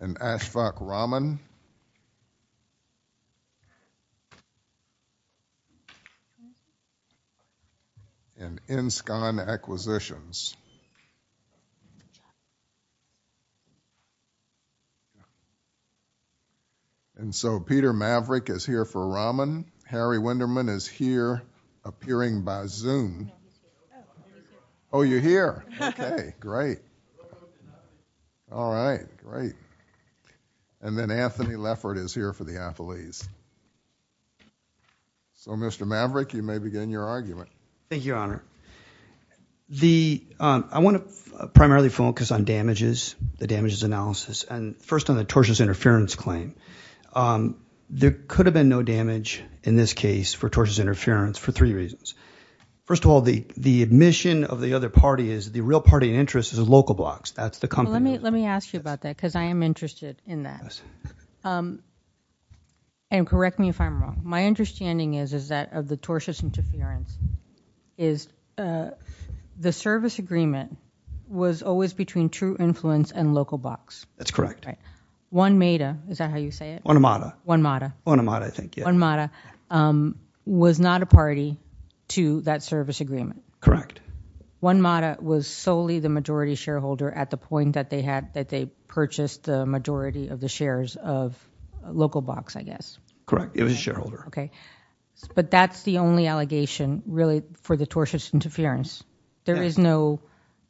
and Ashfaq Rahman, and InScon Acquisitions. And so Peter Maverick is here for Rahman. Harry Wenderman is here, appearing by Zoom. Oh, you're here. Okay, great. All right, great. And then Anthony Leffert is here for the athletes. So, Mr. Maverick, you may begin your argument. Thank you, Your Honor. I want to primarily focus on damages, the damages analysis, and first on the tortious interference claim. There could have been no damage in this case for tortious interference for three reasons. First of all, the admission of the other party is the real party interest is local blocks. Let me ask you about that, because I am interested in that. And correct me if I'm wrong. My understanding is that of the tortious interference is the service agreement was always between true influence and local blocks. That's correct. One Meta, is that how you say it? Onemata. One Meta. One Meta, I think. One Meta was not a party to that service agreement. Correct. One Meta was solely the majority shareholder at the point that they had that they purchased the majority of the shares of local blocks, I guess. Correct. It was a shareholder. Okay. But that's the only allegation really for the tortious interference. There is no,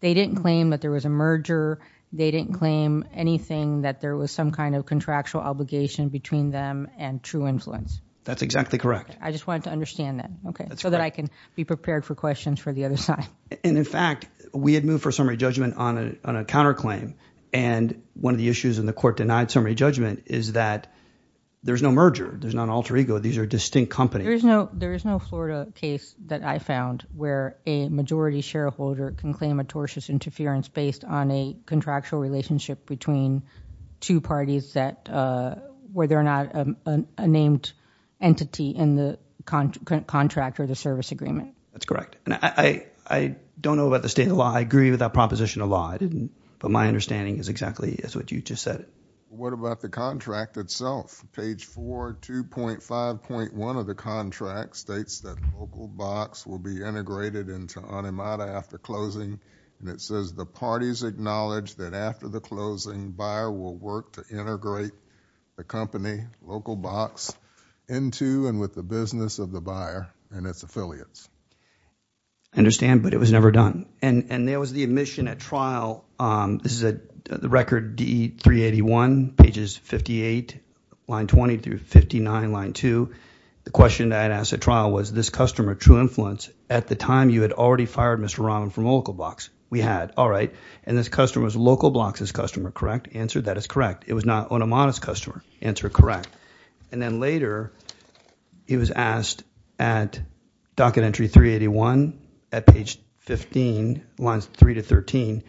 they didn't claim that there was a merger. They didn't claim anything that there was some kind of contractual obligation between them and true influence. That's exactly correct. I just wanted to understand that. Okay. So that I can be prepared for questions for the other side. And in fact, we had moved for summary judgment on a counterclaim. And one of the issues in the court denied summary judgment is that there's no merger. There's not an alter ego. These are distinct companies. There is no Florida case that I found where a majority shareholder can claim a tortious interference based on a contractual relationship between two parties that, whether or not a named entity in the contract or the service agreement. That's correct. And I, I don't know about the state of law. I agree with that proposition of law. I didn't, but my understanding is exactly what you just said. What about the contract itself? Page four, 2.5.1 of the contract states that local box will be integrated into on him out after closing. And it says the parties acknowledged that after the closing buyer will work to integrate the company local box into and with the business of the buyer and its affiliates. I understand, but it was never done. And, and there was the admission at trial. Um, this is a record D three 81 pages 58 line 20 through 59 line two. The question that I asked at trial was this customer true influence at the time you had already fired Mr. Rahman from local box we had. All right. And this customer was local blocks as customer. Correct answer. That is correct. It was not on a modest customer answer. Correct. And then later he was asked at docket entry three 81 at page 15 lines three to 13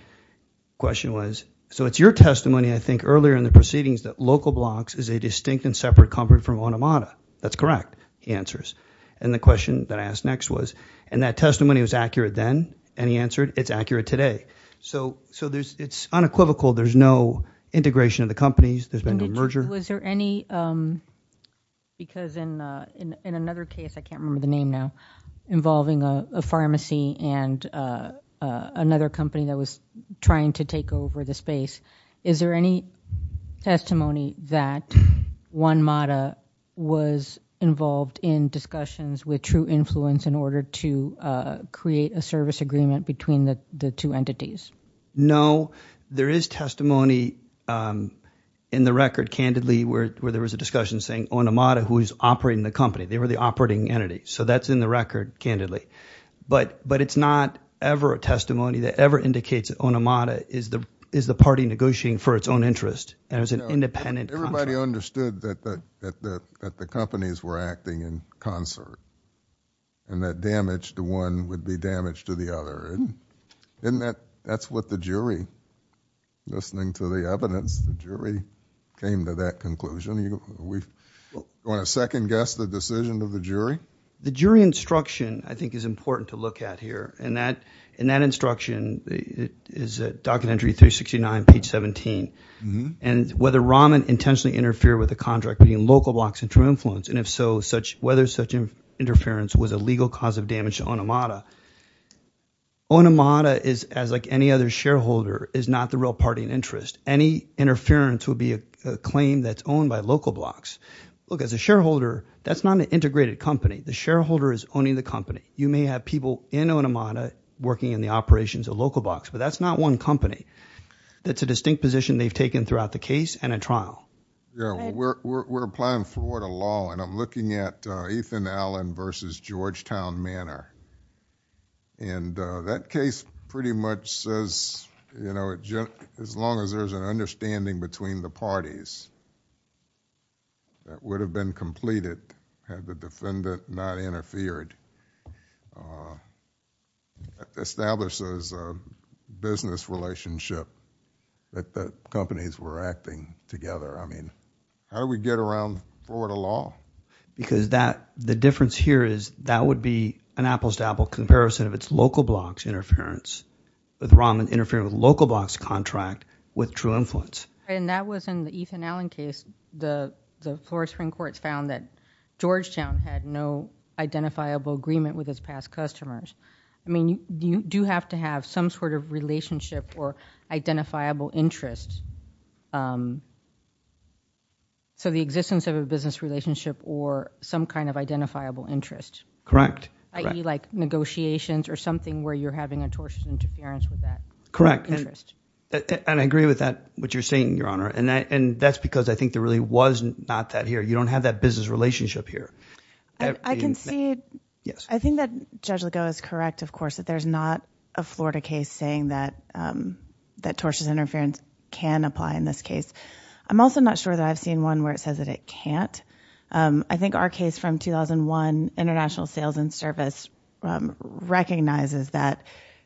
question was, so it's your testimony. I think earlier in the proceedings that local blocks is a distinct and separate company from on Amada. That's correct. He answers. And the question that I asked next was, and that testimony was accurate then. And he answered it's accurate today. So, so there's, it's unequivocal. There's no integration of the companies. There's been no merger. Was there any, um, because in, uh, in, in another case, I can't remember the name now involving a pharmacy and, uh, uh, another company that was trying to take over the space. Is there any testimony that one Mata was involved in discussions with true influence in order to, uh, create a service agreement between the two entities? No, there is testimony, um, in the record candidly, where, where there was a discussion saying on Amada, who is operating the company, they were the operating entity. So that's in the record candidly, but, but it's not ever a testimony that ever indicates on Amada is the, is the party negotiating for its own interest. And it was an independent, everybody understood that, that, that, that, that the companies were acting in concert and that would be damaged to the other. Isn't that, that's what the jury, listening to the evidence, the jury came to that conclusion. You, we want to second guess the decision of the jury? The jury instruction, I think is important to look at here. And that, in that instruction, it is a document entry 369, page 17. And whether Rahman intentionally interfered with the contract between local blocks and true influence. And if so, such, whether such interference was a legal cause of damage to Onamada. Onamada is as like any other shareholder, is not the real party in interest. Any interference would be a claim that's owned by local blocks. Look, as a shareholder, that's not an integrated company. The shareholder is owning the company. You may have people in Onamada working in the operations of local blocks, but that's not one company. That's a distinct position they've taken throughout the case and a trial. We're applying Florida law and I'm looking at Ethan Allen versus Georgetown Manor. And that case pretty much says, you know, as long as there's an understanding between the parties that would have been completed had the defendant not interfered, uh, establishes a business relationship that the companies were acting together. I mean, how do we get around Florida law? Because that, the difference here is that would be an apples to apples comparison of its local blocks interference with Rahman interfering with local blocks contract with true influence. And that was in the Ethan Allen case. The, the Florida Supreme Court found that Georgetown had no identifiable agreement with its past customers. I mean, you do have to have some sort of relationship or identifiable interest. Um, so the existence of a business relationship or some kind of identifiable interest. Correct. IE like negotiations or something where you're having a torsion interference with that. Correct. And I agree with that, what you're saying, Your Honor. And I, and that's because I think there really wasn't not that here. You don't have that business relationship here. I can see. Yes. I think that Judge Legault is correct. Of course, that there's not a Florida case saying that, um, that tortious interference can apply in this case. I'm also not sure that I've seen one where it says that it can't. Um, I think our case from 2001 international sales and service, um, recognizes that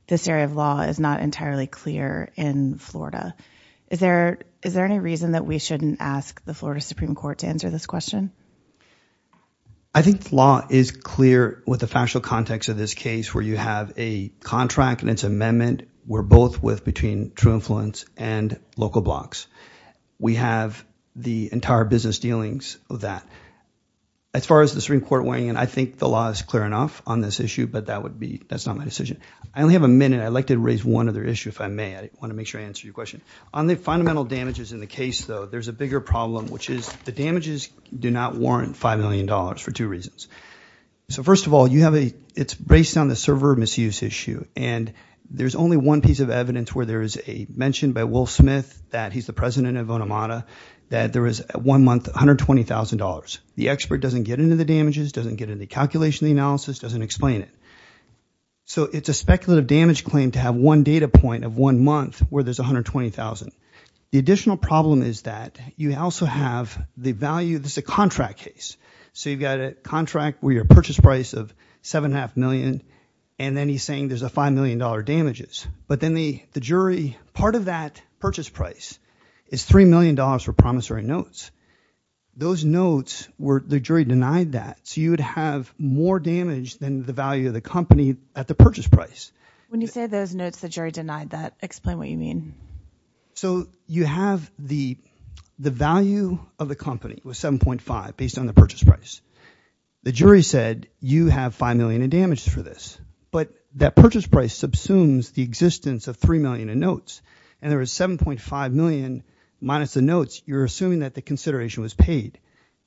this area of law is not entirely clear in Florida. Is there, is there any reason that we shouldn't ask the Florida Supreme Court to answer this question? I think law is clear with the factual context of this case where you have a contract and it's amendment. We're both with between true influence and local blocks. We have the entire business dealings of that. As far as the Supreme Court weighing in, I think the law is clear enough on this issue, but that would be, that's not my decision. I only have a minute. I'd like to raise one other issue if I may. I want to make sure I answer your question. On the fundamental damages in the case though, there's a bigger problem, which is the damages do not warrant $5 million for two reasons. So first of all, you have a, it's based on the server misuse issue and there's only one piece of evidence where there is a mentioned by Will Smith that he's the president of Onamada that there is one month, $120,000. The expert doesn't get into the damages, doesn't get into the calculation, the analysis doesn't explain it. So it's a speculative damage claim to have one data point of one month where there's $120,000. The additional problem is that you also have the value, this is a contract case. So you've got a contract where your purchase price of seven and a half million, and then he's saying there's a $5 million damages. But then the jury, part of that purchase price is $3 million for promissory notes. Those notes were, the jury denied that. So you would have more damage than the value of the company at the purchase price. When you say those notes, the jury denied that, explain what you mean. So you have the, the value of the company was 7.5 based on the purchase price. The jury said you have $5 million in damage for this. But that purchase price subsumes the existence of $3 million in notes. And there was $7.5 million minus the notes, you're assuming that the consideration was paid.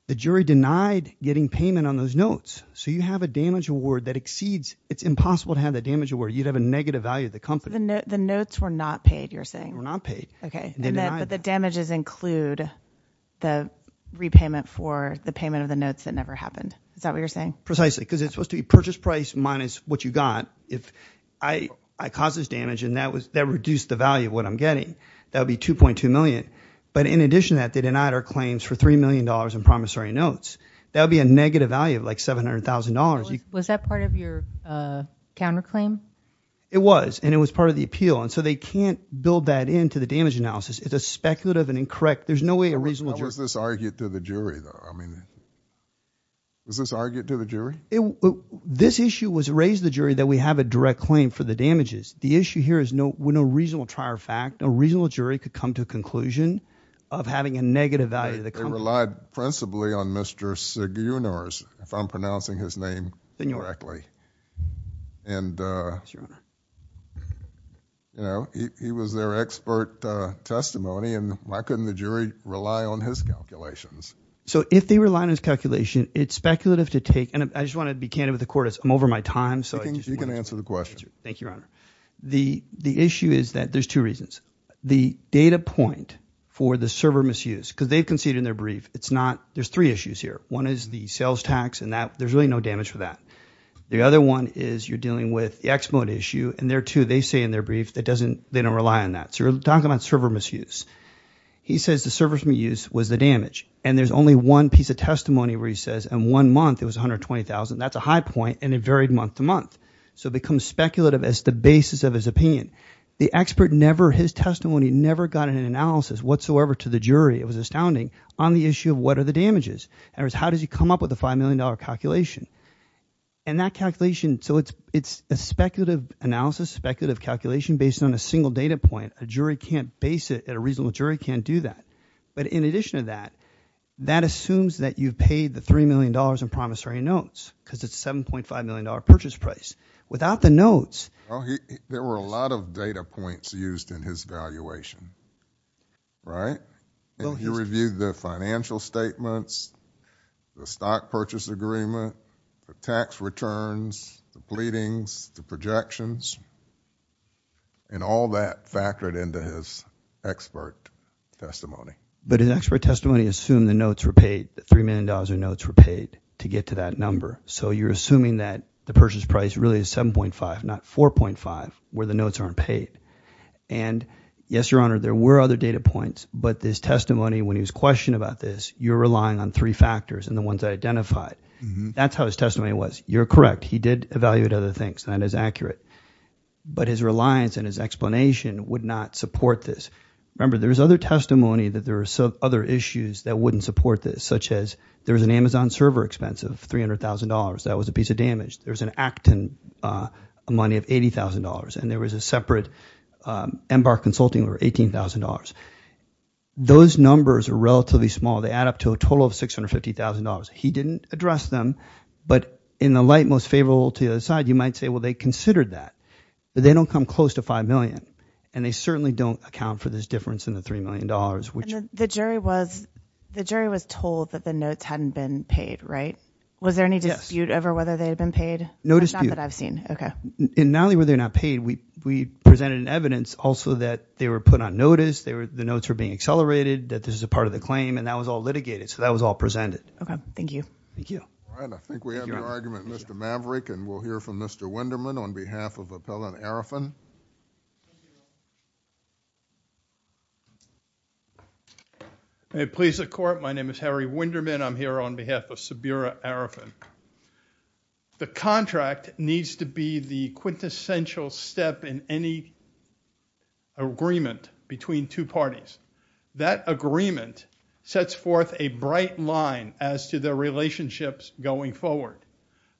The jury denied getting payment on those notes. So you have a damage award that exceeds, it's impossible to have the damage award. You'd have a negative value of the company. The notes were not paid, you're saying. Were not paid. Okay. But the damages include the repayment for the payment of the notes that never happened. Is that what you're saying? Precisely. Because it's supposed to be purchase price minus what you got. If I, I caused this damage and that was, that reduced the value of what I'm getting. That would be 2.2 million. But in addition to that, they denied our claims for $3 million in promissory notes. That would be a negative value of like $700,000. Was that part of your counterclaim? It was, and it was part of the appeal. And so they can't build that into the damage analysis. It's a speculative and incorrect. There's no way a reasonable jury. How was this argued to the jury though? I mean, was this argued to the jury? This issue was raised to the jury that we have a direct claim for the damages. The issue here is no, we're no reasonable trier of fact. No reasonable jury could come to a conclusion of having a negative value of the company. Relied principally on Mr. Sigunor's, if I'm pronouncing his name correctly. And he was their expert testimony and why couldn't the jury rely on his calculations? So if they rely on his calculation, it's speculative to take. And I just want to be candid with the court. I'm over my time. So you can answer the question. Thank you, Your Honor. The, the issue is that there's two reasons. The data point for the server misuse because they've conceded in their brief. It's not, there's three issues here. One is the sales tax and that there's really no damage for that. The other one is you're dealing with the X-Mode issue and there too, they say in their brief, that doesn't, they don't rely on that. So you're talking about server misuse. He says the service we use was the damage. And there's only one piece of testimony where he says, and one month it was 120,000. That's a high point. And it varied month to month. So it becomes speculative as the basis of his opinion. The expert never, his testimony never got an analysis whatsoever to the jury. It was astounding on the issue of what are the damages. And it was, how does he come up with a $5 million calculation and that calculation? So it's, it's a speculative analysis, speculative calculation based on a single data point. A jury can't base it at a reasonable jury can't do that. But in addition to that, that assumes that you've paid the $3 million in promissory notes because it's $7.5 million purchase price without the notes. There were a lot of data points used in his valuation, right? And he reviewed the financial statements, the stock purchase agreement, the tax returns, the pleadings, the projections, and all that factored into his expert testimony. But an expert testimony assumed the notes were paid, the $3 million in notes were paid to get to that number. So you're assuming that the purchase price really is 7.5, not 4.5, where the notes aren't paid. And yes, your honor, there were other data points, but this testimony, when he was questioned about this, you're relying on three factors and the ones I identified. That's how his testimony was. You're correct. He did evaluate other things and that is accurate. But his reliance and his explanation would not support this. Remember, there's other testimony that there are some other issues that wouldn't support this, such as there was an Amazon server expense of $300,000. That was a piece of damage. There was an Acton money of $80,000 and there was a separate MBAR consulting over $18,000. Those numbers are relatively small. They add up to a total of $650,000. He didn't address them, but in the light most favorable to the other side, you might say, well, they considered that, but they don't come close to 5 million. And they certainly don't account for this difference in the $3 million. The jury was told that the notes hadn't been paid, right? Was there any dispute over whether they had been paid? Not that I've seen. Okay. Not only were they not paid, we presented evidence also that they were put on notice, the notes were being accelerated, that this is a part of the claim, and that was all litigated. So that was all presented. Okay. Thank you. Thank you. All right. I think we have no argument. Mr. Maverick, and we'll hear from Mr. Wenderman on behalf of Appellant Arifin. May it please the Court, my name is Harry Wenderman. I'm here on behalf of Sabira Arifin. The contract needs to be the quintessential step in any agreement between two parties. That agreement sets forth a bright line as to their relationships going forward.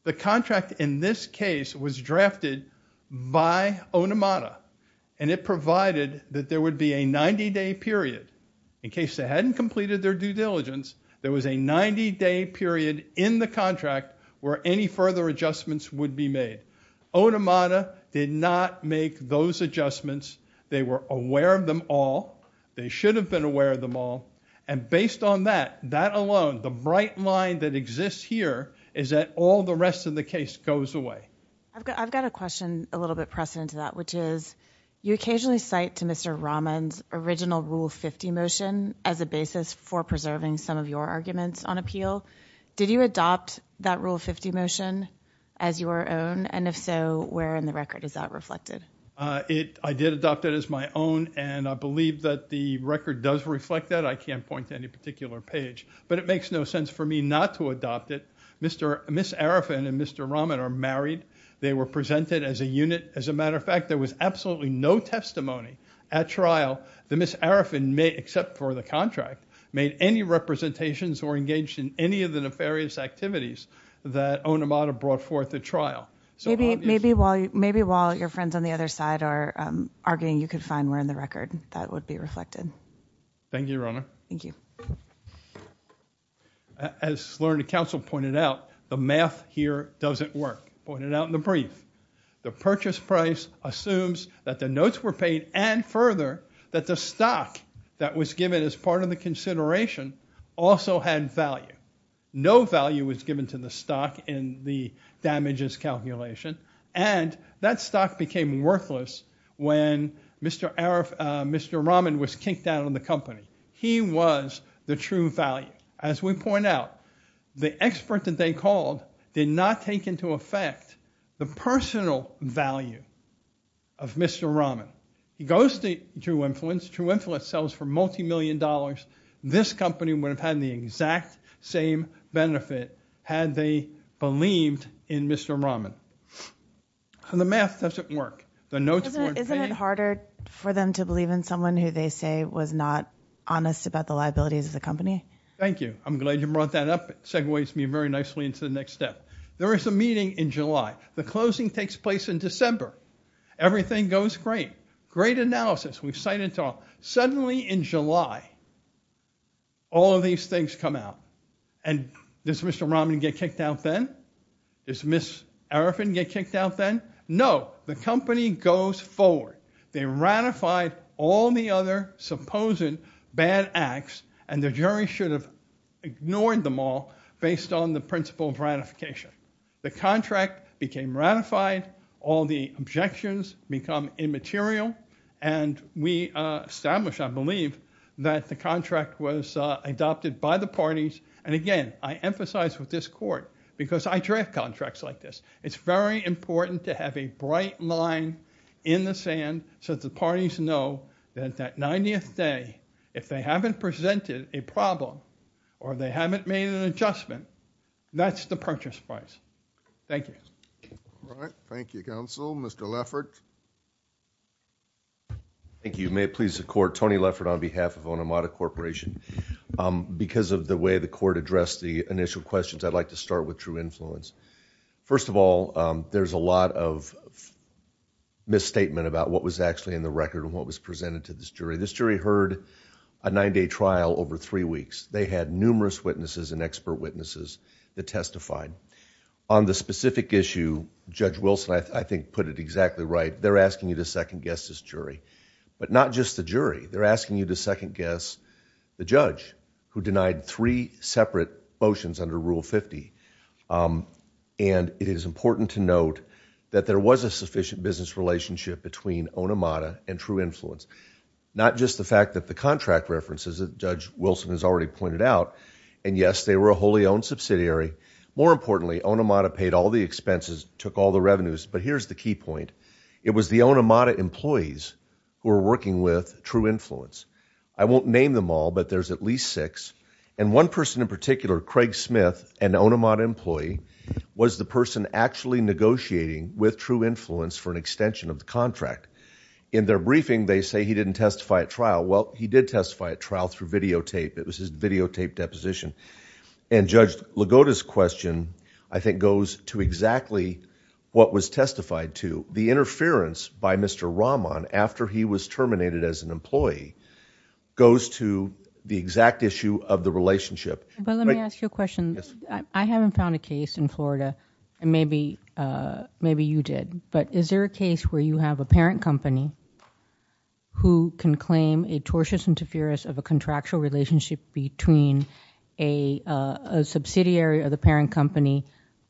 The contract in this case was drafted by Onamada, and it provided that there would be a 90-day period. In case they hadn't completed their due diligence, there was a 90-day period in the contract where any further adjustments would be made. Onamada did not make those adjustments. They were aware of them all. They should have been aware of them all. And based on that, that alone, the bright line that exists here is that all the rest of the case goes away. I've got a question a little bit precedent to that, which is, you occasionally cite to Mr. Rahman's original Rule 50 motion as a basis for preserving some of your arguments on appeal. Did you adopt that Rule 50 motion as your own? And if so, where in the record is that reflected? I did adopt it as my own, and I believe that the record does reflect that. I can't point to any particular page. But it makes no sense for me not to adopt it. Ms. Arifan and Mr. Rahman are married. They were presented as a unit. As a matter of fact, there was absolutely no testimony at trial that Ms. Arifan made, except for the contract, made any representations or engaged in any of the nefarious activities that Onamada brought forth at trial. Maybe while your friends on the other side are arguing, you could find where in the record that would be reflected. Thank you, Your Honor. Thank you. As Learned Counsel pointed out, the math here doesn't work, pointed out in the brief. The purchase price assumes that the notes were paid and further, that the stock that was given as part of the consideration also had value. No value was given to the stock in the damages calculation, and that stock became worthless when Mr. Rahman was kicked out of the company. He was the true value. As we point out, the expert that they called did not take into effect the personal value of Mr. Rahman. He goes to True Influence. True Influence sells for Mr. Rahman. The math doesn't work. Isn't it harder for them to believe in someone who they say was not honest about the liabilities of the company? Thank you. I'm glad you brought that up. It segues me very nicely into the next step. There is a meeting in July. The closing takes place in December. Everything goes great. Great analysis. We've cited it all. Suddenly in July, all of these things come out. Does Mr. Rahman get kicked out then? Does Ms. Arifin get kicked out then? No. The company goes forward. They ratified all the other supposed bad acts, and the jury should have ignored them all based on the principle of ratification. The contract became ratified. All the objections become immaterial. We established, I believe, that the contract was adopted by the parties. Again, I emphasize with this court, because I draft contracts like this, it's very important to have a bright line in the sand so that the parties know that that 90th day, if they haven't presented a problem or they haven't made an adjustment, that's the purchase price. Thank you. All right. Thank you, counsel. Mr. Leffert. Thank you. May it please the court, Tony Leffert on behalf of Onomata Corporation. Because of the way the court addressed the initial questions, I'd like to start with true influence. First of all, there's a lot of misstatement about what was actually in the record and what was presented to this jury. This jury heard a nine-day trial over three weeks. They had numerous witnesses and expert witnesses that testified. On the specific issue, Judge Wilson, I think, put it exactly right. They're asking you to second guess this jury, but not just the jury. They're asking you to second guess the judge who denied three separate motions under Rule 50. It is important to note that there was a sufficient business relationship between Onomata and true influence. Not just the fact that the contract references that Judge Wilson has already pointed out, and yes, they were a wholly owned subsidiary. More importantly, Onomata paid all the expenses, took all the revenues, but here's the key point. It was the Onomata employees who were working with true influence. I won't name them all, but there's at least six. One person in particular, Craig Smith, an Onomata employee, was the person actually negotiating with true influence. In their briefing, they say he didn't testify at trial. Well, he did testify at trial through videotape. It was his videotape deposition. Judge Lagoda's question, I think, goes to exactly what was testified to. The interference by Mr. Rahman after he was terminated as an employee goes to the exact issue of the relationship. Let me ask you a question. I haven't found a but is there a case where you have a parent company who can claim a tortious interference of a contractual relationship between a subsidiary of the parent company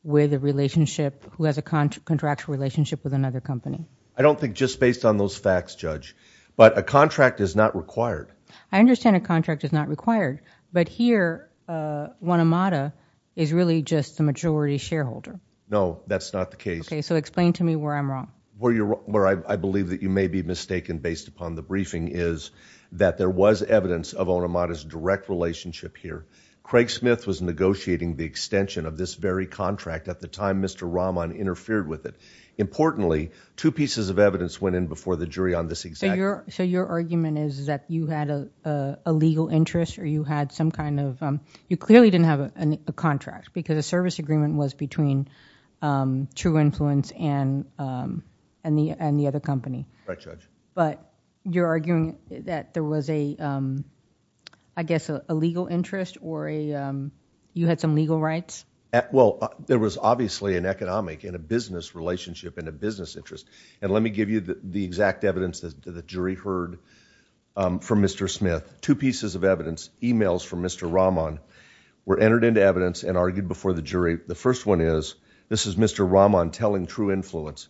with a relationship who has a contractual relationship with another company? I don't think just based on those facts, Judge, but a contract is not required. I understand a contract is not required, but here, Onomata is really just the majority shareholder. No, that's not the case. Okay, explain to me where I'm wrong. Where I believe that you may be mistaken based upon the briefing is that there was evidence of Onomata's direct relationship here. Craig Smith was negotiating the extension of this very contract at the time Mr. Rahman interfered with it. Importantly, two pieces of evidence went in before the jury on this exact... So your argument is that you had a legal interest or you had some kind of... You clearly didn't have a contract because service agreement was between True Influence and the other company. Right, Judge. But you're arguing that there was a, I guess, a legal interest or you had some legal rights? Well, there was obviously an economic and a business relationship and a business interest. And let me give you the exact evidence that the jury heard from Mr. Smith. Two pieces of evidence, emails from Mr. Rahman, were entered into evidence and argued before the jury. The first one is, this is Mr. Rahman telling True Influence,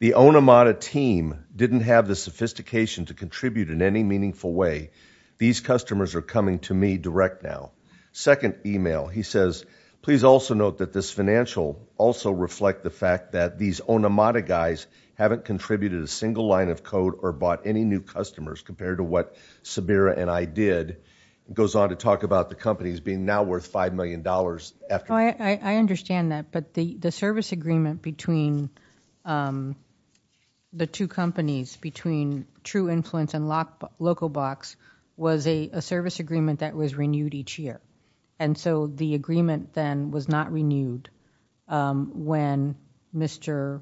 the Onomata team didn't have the sophistication to contribute in any meaningful way. These customers are coming to me direct now. Second email, he says, please also note that this financial also reflect the fact that these Onomata guys haven't contributed a single line of code or bought any new customers compared to what Sabira and I did. It goes on to talk about the companies being now worth $5 million after. I understand that, but the service agreement between the two companies, between True Influence and Locobox, was a service agreement that was renewed each year. And so the agreement then was not renewed when Mr.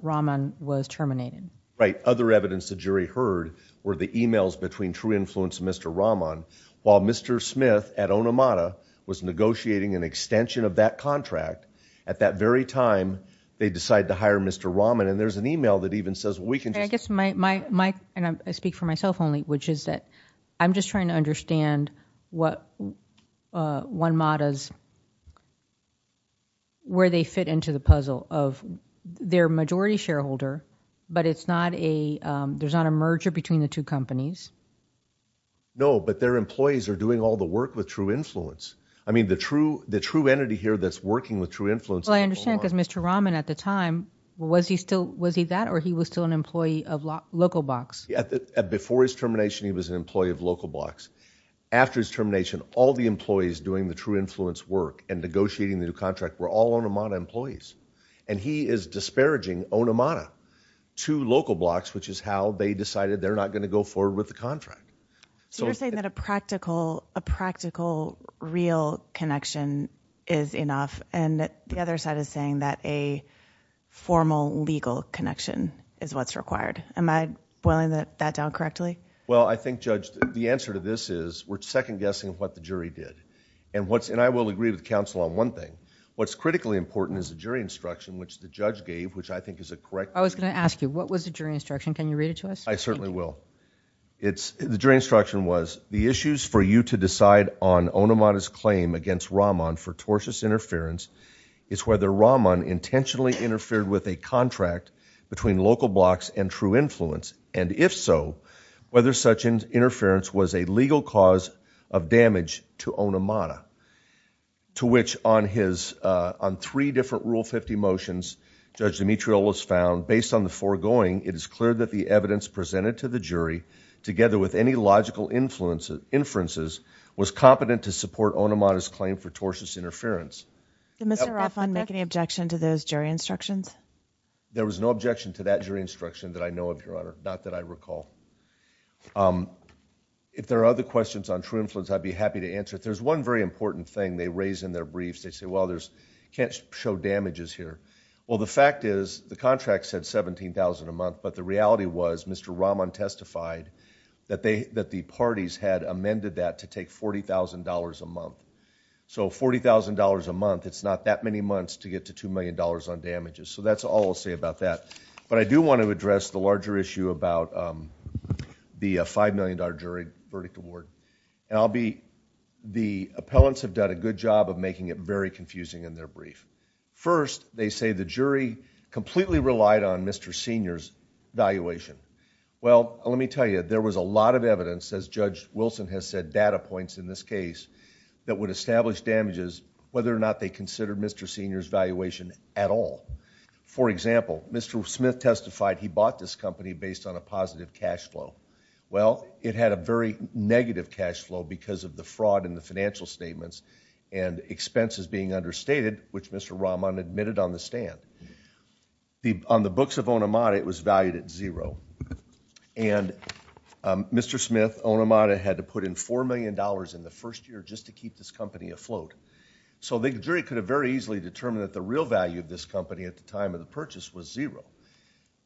Rahman was terminated. Right. Other evidence the jury heard were the emails between True Influence and Mr. Rahman, while Mr. Smith at Onomata was negotiating an extension of that contract. At that very time, they decide to hire Mr. Rahman. And there's an email that even says we can just. I guess my, and I speak for myself only, which is that I'm just trying to understand what OneMata's, where they fit into the puzzle of their majority shareholder, but it's not a, there's not a merger between the two companies. No, but their employees are doing all the work with True Influence. I mean, the true, the true entity here that's working with True Influence. Well, I understand because Mr. Rahman at the time, was he still, was he that, or he was still an employee of Locobox? Before his termination, he was an employee of Locobox. After his termination, all the employees doing the True Influence work and negotiating the new contract were all Onomata employees. And he is disparaging Onomata to Locobox, which is how they decided they're not going to go forward with the contract. So you're saying that a practical, a practical real connection is enough. And the other side is saying that a formal legal connection is what's required. Am I boiling that down correctly? Well, I think Judge, the answer to this is we're second guessing what the jury did. And what's, and I will agree with counsel on one thing. What's critically important is the jury instruction, which the judge gave, which I think is a correct. I was going to ask you, what was the jury instruction? Can you read it to us? I certainly will. It's, the jury instruction was the issues for you to decide on Onomata's claim against Rahman for tortious interference is whether Rahman intentionally interfered with a contract between Locobox and True Influence. And if so, whether such interference was a legal cause of damage to Onomata. To which on his, on three different Rule 50 motions, Judge Dimitriolos found based on the foregoing, it is clear that the evidence presented to the jury together with any logical influences, inferences was competent to support Onomata's claim for tortious interference. Did Mr. Rahman make any objection to those jury instructions? There was no objection to that jury instruction that I know of your honor, not that I recall. Um, if there are other questions on True Influence, I'd be happy to answer it. There's one very important thing they raise in their briefs. They say, well, there's can't show damages here. Well, the fact is the contract said 17,000 a month, but the reality was Mr. Rahman testified that they, that the parties had amended that to take $40,000 a month. So $40,000 a month, it's not that many months to get to $2 million on damages. So that's all I'll say about that. But I do want to address the larger issue about, um, the $5 million jury verdict award and I'll be, the appellants have done a good job of making it very confusing in their brief. First, they say the jury completely relied on Mr. Senior's valuation. Well, let me tell you, there was a lot of evidence as Judge Wilson has said data points in this case that would establish damages, whether or not they considered Mr. Senior's valuation at all. For example, Mr. Smith testified he bought this company based on a positive cashflow. Well, it had a very negative cashflow because of the fraud in the financial statements and expenses being understated, which Mr. Rahman admitted on the stand. On the books of Onamada, it was valued at zero. And Mr. Smith, Onamada had to put in $4 million in the first year just to keep this company afloat. So the jury could have very easily determined that the real value of this company at the time of the purchase was zero.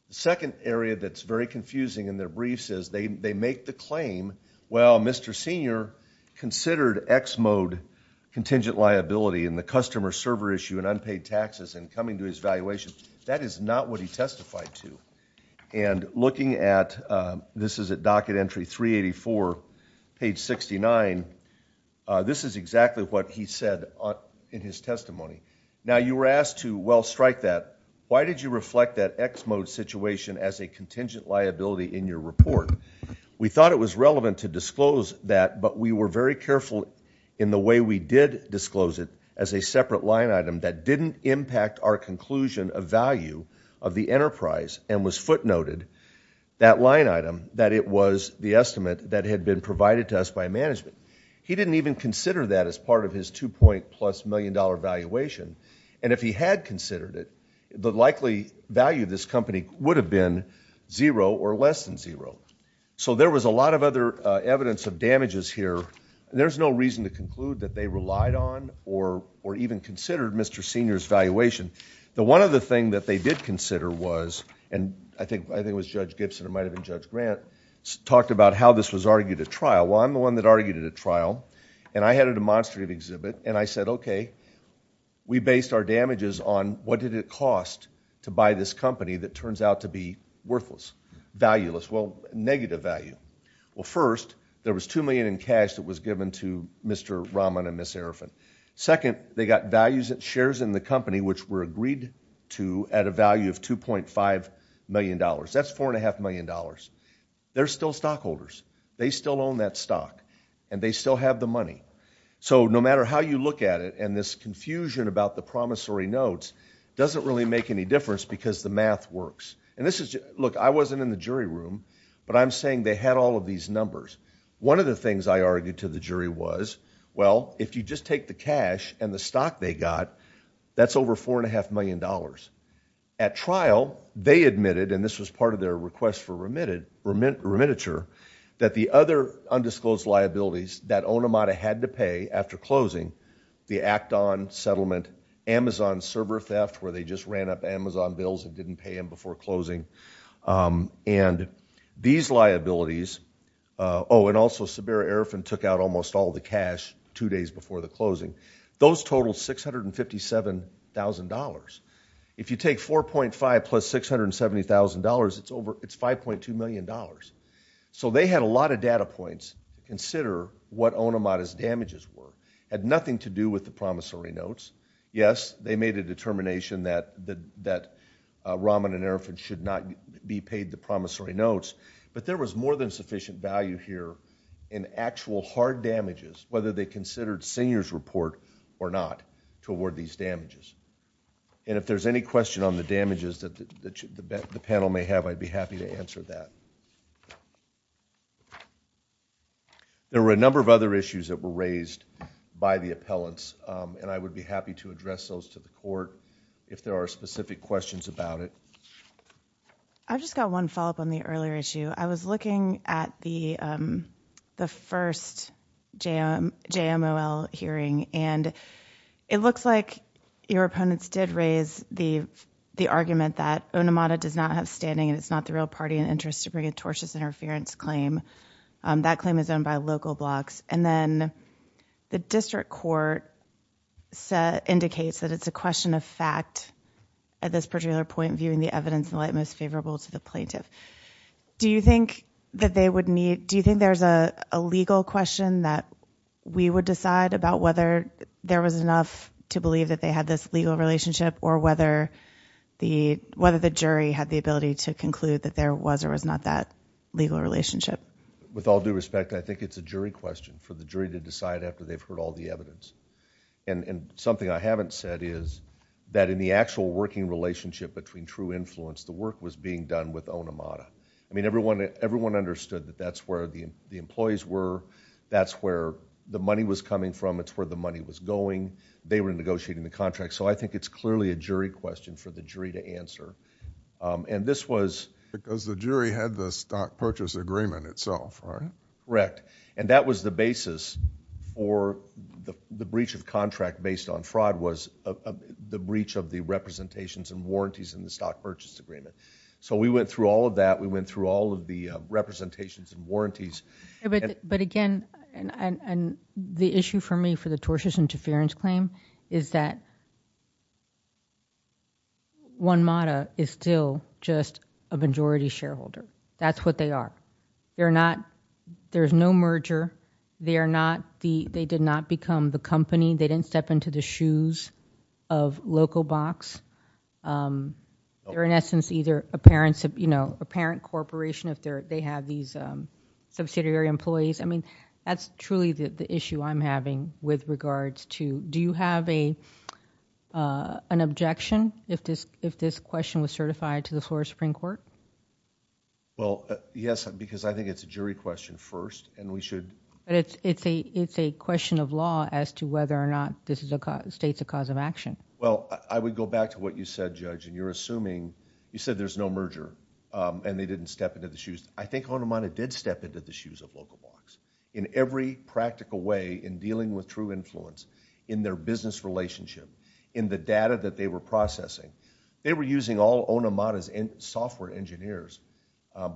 The second area that's very confusing in their briefs is they, they make the claim, well, Mr. Senior considered X mode contingent liability in the customer server issue and unpaid taxes and coming to his valuation. That is not what he testified to. And looking at, uh, this is a docket entry 384, page 69. Uh, this is exactly what he said in his testimony. Now you were asked to, well, strike that. Why did you reflect that X mode situation as a contingent liability in your report? We thought it was relevant to disclose that, but we were very careful in the way we did disclose it as a separate line item that didn't impact our conclusion of value of the enterprise and was footnoted that line item, that it was the estimate that had been provided to us by management. He didn't even consider that as part of his two point plus million dollar valuation. And if he had considered it, the likely value of this company would have been zero or less than zero. So there was a lot of other, uh, evidence of damages here. There's no reason to conclude that they relied on or, or even considered Mr. Senior's valuation. The one other thing that they did consider was, and I think, I think it was judge Gibson. It might've been judge Grant talked about how this was argued at trial. And I had a demonstrative exhibit and I said, okay, we based our damages on what did it cost to buy this company that turns out to be worthless, valueless, well, negative value. Well, first there was 2 million in cash that was given to Mr. Rahman and Ms. Arafat. Second, they got values that shares in the company, which were agreed to at a value of $2.5 million. That's $4.5 million. They're still stockholders. They still own that stock and they still have the money. So no matter how you look at it, and this confusion about the promissory notes doesn't really make any difference because the math works. And this is, look, I wasn't in the jury room, but I'm saying they had all of these numbers. One of the things I argued to the jury was, well, if you just take the cash and the stock they got, that's over four and a half million dollars at trial, they admitted, and this was part of their request for remittance, that the other undisclosed liabilities that Onamada had to pay after closing, the Acton settlement, Amazon server theft, where they just ran up Amazon bills and didn't pay them before closing. And these liabilities, oh, and also Sabera Arafat took out almost all the cash two take $4.5 plus $670,000, it's $5.2 million. So they had a lot of data points to consider what Onamada's damages were. Had nothing to do with the promissory notes. Yes, they made a determination that Raman and Arafat should not be paid the promissory notes, but there was more than sufficient value here in actual hard damages, whether they considered seniors report or not, to award these damages. And if there's any question on the damages that the panel may have, I'd be happy to answer that. There were a number of other issues that were raised by the appellants, and I would be happy to address those to the court if there are specific questions about it. I've just got one follow-up on the earlier issue. I was looking at the first JMOL hearing, and it looks like your opponents did raise the argument that Onamada does not have standing, and it's not the real party in interest to bring a tortious interference claim. That claim is owned by local blocks. And then the district court indicates that it's a question of most favorable to the plaintiff. Do you think there's a legal question that we would decide about whether there was enough to believe that they had this legal relationship or whether the jury had the ability to conclude that there was or was not that legal relationship? With all due respect, I think it's a jury question for the jury to decide after they've heard all the evidence. And something I haven't said is that in the actual working relationship between True Influence, the work was being done with Onamada. I mean, everyone understood that that's where the employees were. That's where the money was coming from. It's where the money was going. They were negotiating the contract. So I think it's clearly a jury question for the jury to answer. And this was... Because the jury had the stock purchase agreement itself, right? Correct. And that was the basis for the breach of contract based on fraud was the breach of the representations and warranties in the stock purchase agreement. So we went through all of that. We went through all of the representations and warranties. But again, and the issue for me for the tortious interference claim is that Onamada is still just a majority shareholder. That's what they are. They're not... There's no shoes of local box. They're in essence either a parent corporation if they have these subsidiary employees. I mean, that's truly the issue I'm having with regards to... Do you have an objection if this question was certified to the Florida Supreme Court? Well, yes, because I think it's a jury question first and we should... It's a question of law as to whether or not this states a cause of action. Well, I would go back to what you said, Judge, and you're assuming... You said there's no merger and they didn't step into the shoes. I think Onamada did step into the shoes of local box in every practical way in dealing with true influence in their business relationship, in the data that they were processing. They were using all Onamada's software engineers.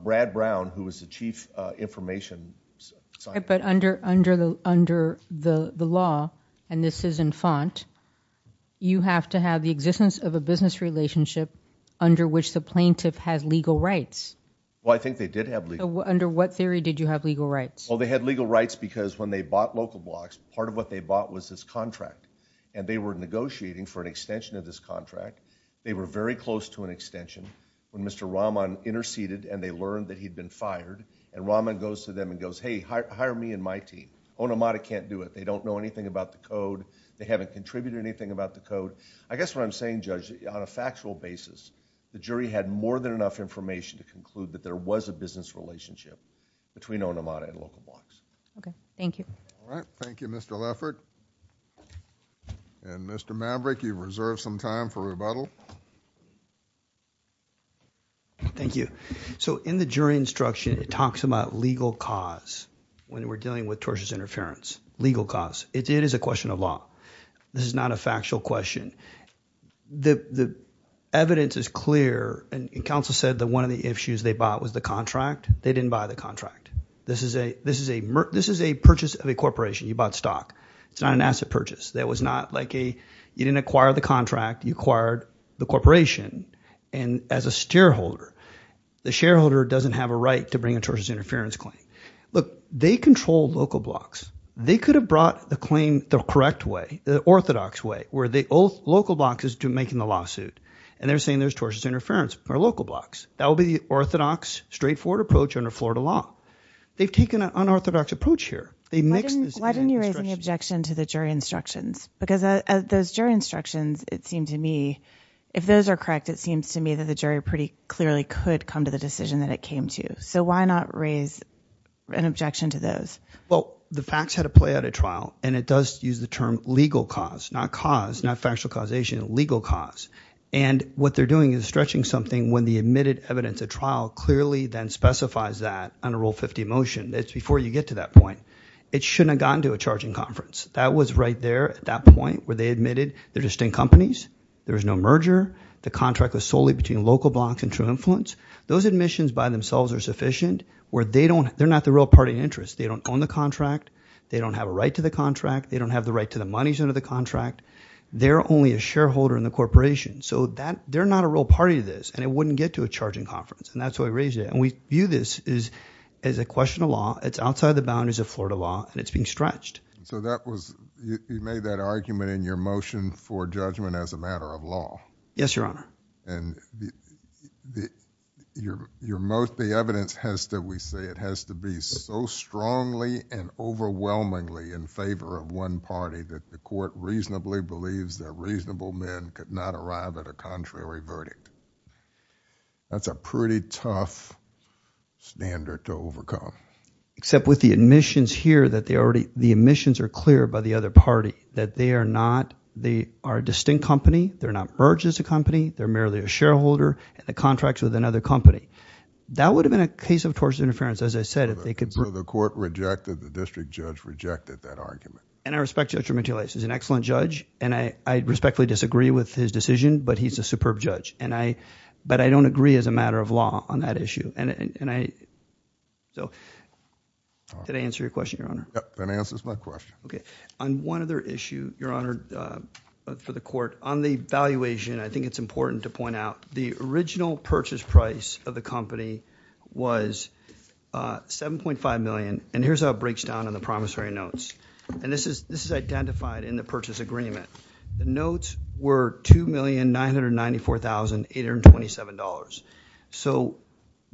Brad Brown, who was the chief information... But under the law, and this is in font, you have to have the existence of a business relationship under which the plaintiff has legal rights. Well, I think they did have legal... Under what theory did you have legal rights? Well, they had legal rights because when they bought local blocks, part of what they bought was this contract and they were negotiating for an extension of this contract. They were very close to an extension when Mr. Rahman interceded and they learned that he'd been fired and Rahman goes to them and goes, hey, hire me and my team. Onamada can't do it. They don't know anything about the code. They haven't contributed anything about the code. I guess what I'm saying, Judge, on a factual basis, the jury had more than enough information to conclude that there was a business relationship between Onamada and local blocks. Okay. Thank you. All right. Thank you, Mr. Leffert. And Mr. Maverick, you've reserved some time for rebuttal. Thank you. So in the jury instruction, it talks about legal cause when we're dealing with tortious interference, legal cause. It is a question of law. This is not a factual question. The evidence is clear and counsel said that one of the issues they bought was the contract. They didn't buy the contract. This is a purchase of a corporation. You bought stock. It's not an asset purchase. That was not like you didn't acquire the contract, you acquired the corporation. And as a shareholder, the shareholder doesn't have a right to bring a tortious interference claim. Look, they control local blocks. They could have brought the claim the correct way, the orthodox way, where the local block is making the lawsuit. And they're saying there's under Florida law. They've taken an unorthodox approach here. Why didn't you raise an objection to the jury instructions? Because those jury instructions, it seemed to me, if those are correct, it seems to me that the jury pretty clearly could come to the decision that it came to. So why not raise an objection to those? Well, the facts had a play at a trial and it does use the term legal cause, not cause, not factual causation, legal cause. And what they're doing is stretching something when the admitted evidence at trial clearly then specifies that under Rule 50 motion. It's before you get to that point. It shouldn't have gotten to a charging conference. That was right there at that point where they admitted they're distinct companies. There was no merger. The contract was solely between local blocks and true influence. Those admissions by themselves are sufficient where they don't, they're not the real party interest. They don't own the contract. They don't have a right to the contract. They don't have the right to the monies under the contract. They're only a shareholder in the corporation. So they're not a real party to it. And it wouldn't get to a charging conference. And that's why we raised it. And we view this as a question of law. It's outside the boundaries of Florida law and it's being stretched. So that was, you made that argument in your motion for judgment as a matter of law. Yes, Your Honor. And the, the, your, your most, the evidence has to, we say it has to be so strongly and overwhelmingly in favor of one party that the court reasonably believes that reasonable men could not arrive at a contrary verdict. That's a pretty tough standard to overcome. Except with the admissions here that they already, the admissions are clear by the other party that they are not, they are a distinct company. They're not merged as a company. They're merely a shareholder and the contracts with another company. That would have been a case of tortious interference. As I said, if they could So the court rejected, the district judge rejected that argument. And I respect Judge Romantoulas. He's an excellent judge and I, I respectfully disagree with his decision, but he's a superb judge. And I, but I don't agree as a matter of law on that issue. And, and I, so did I answer your question, Your Honor? Yep, that answers my question. Okay. On one other issue, Your Honor, for the court, on the valuation, I think it's important to point out the original purchase price of the company was 7.5 million. And here's how it breaks down in the promissory notes. And this is, this is identified in the purchase agreement. The notes were $2,994,827. So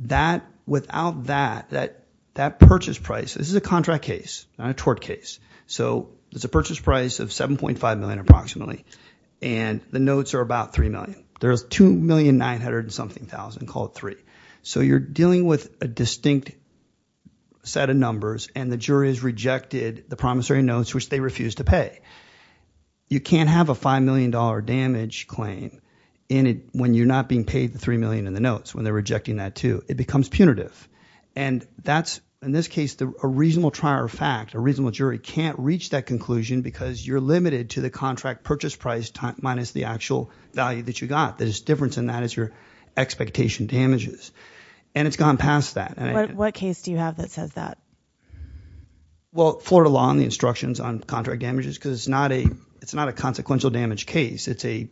that, without that, that, that purchase price, this is a contract case, not a tort case. So it's a purchase price of 7.5 million approximately. And the notes are about 3 million. There's 2,900,000-something, call it three. So you're dealing with a distinct set of numbers and the jury has rejected the promissory notes, which they refuse to pay. You can't have a $5 million damage claim in it when you're not being paid the 3 million in the notes, when they're rejecting that too. It becomes punitive. And that's, in this case, a reasonable trial or fact, a reasonable jury can't reach that conclusion because you're limited to the contract purchase price minus the actual value that you got. There's a difference in that as your expectation damages. And it's gone past that. What case do you have that says that? Well, Florida law and the instructions on contract damages, because it's not a, it's not a consequential damage case. It's a,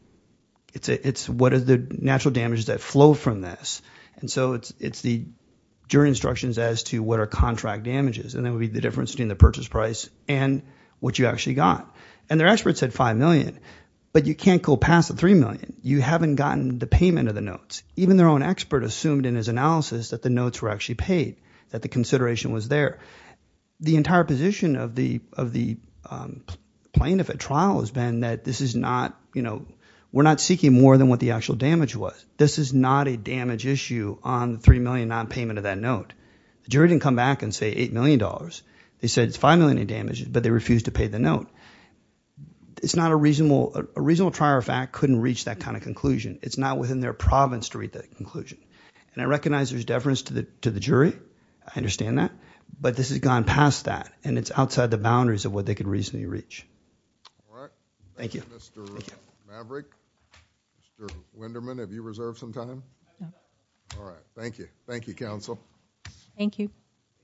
it's a, it's what are the natural damages that flow from this? And so it's, it's the jury instructions as to what are contract damages. And that would be the difference between the purchase price and what you actually got. And their experts said 5 million, but you can't go past the 3 million. You haven't gotten the payment of the notes. Even their own expert assumed in his analysis that the notes were actually paid, that the consideration was there. The entire position of the, of the plaintiff at trial has been that this is not, you know, we're not seeking more than what the actual damage was. This is not a damage issue on the 3 million non-payment of that note. The jury didn't come back and say $8 million. They said it's 5 million in damages, but they refused to pay the note. It's not a reasonable, a reasonable trial fact couldn't reach that kind of conclusion. It's not within their province to reach that conclusion. And I recognize there's deference to the, to the jury. I understand that. But this has gone past that and it's outside the boundaries of what they could reasonably reach. All right. Thank you, Mr. Maverick. Mr. Wenderman, have you reserved some time? No. All right. Thank you. Thank you, counsel. Thank you.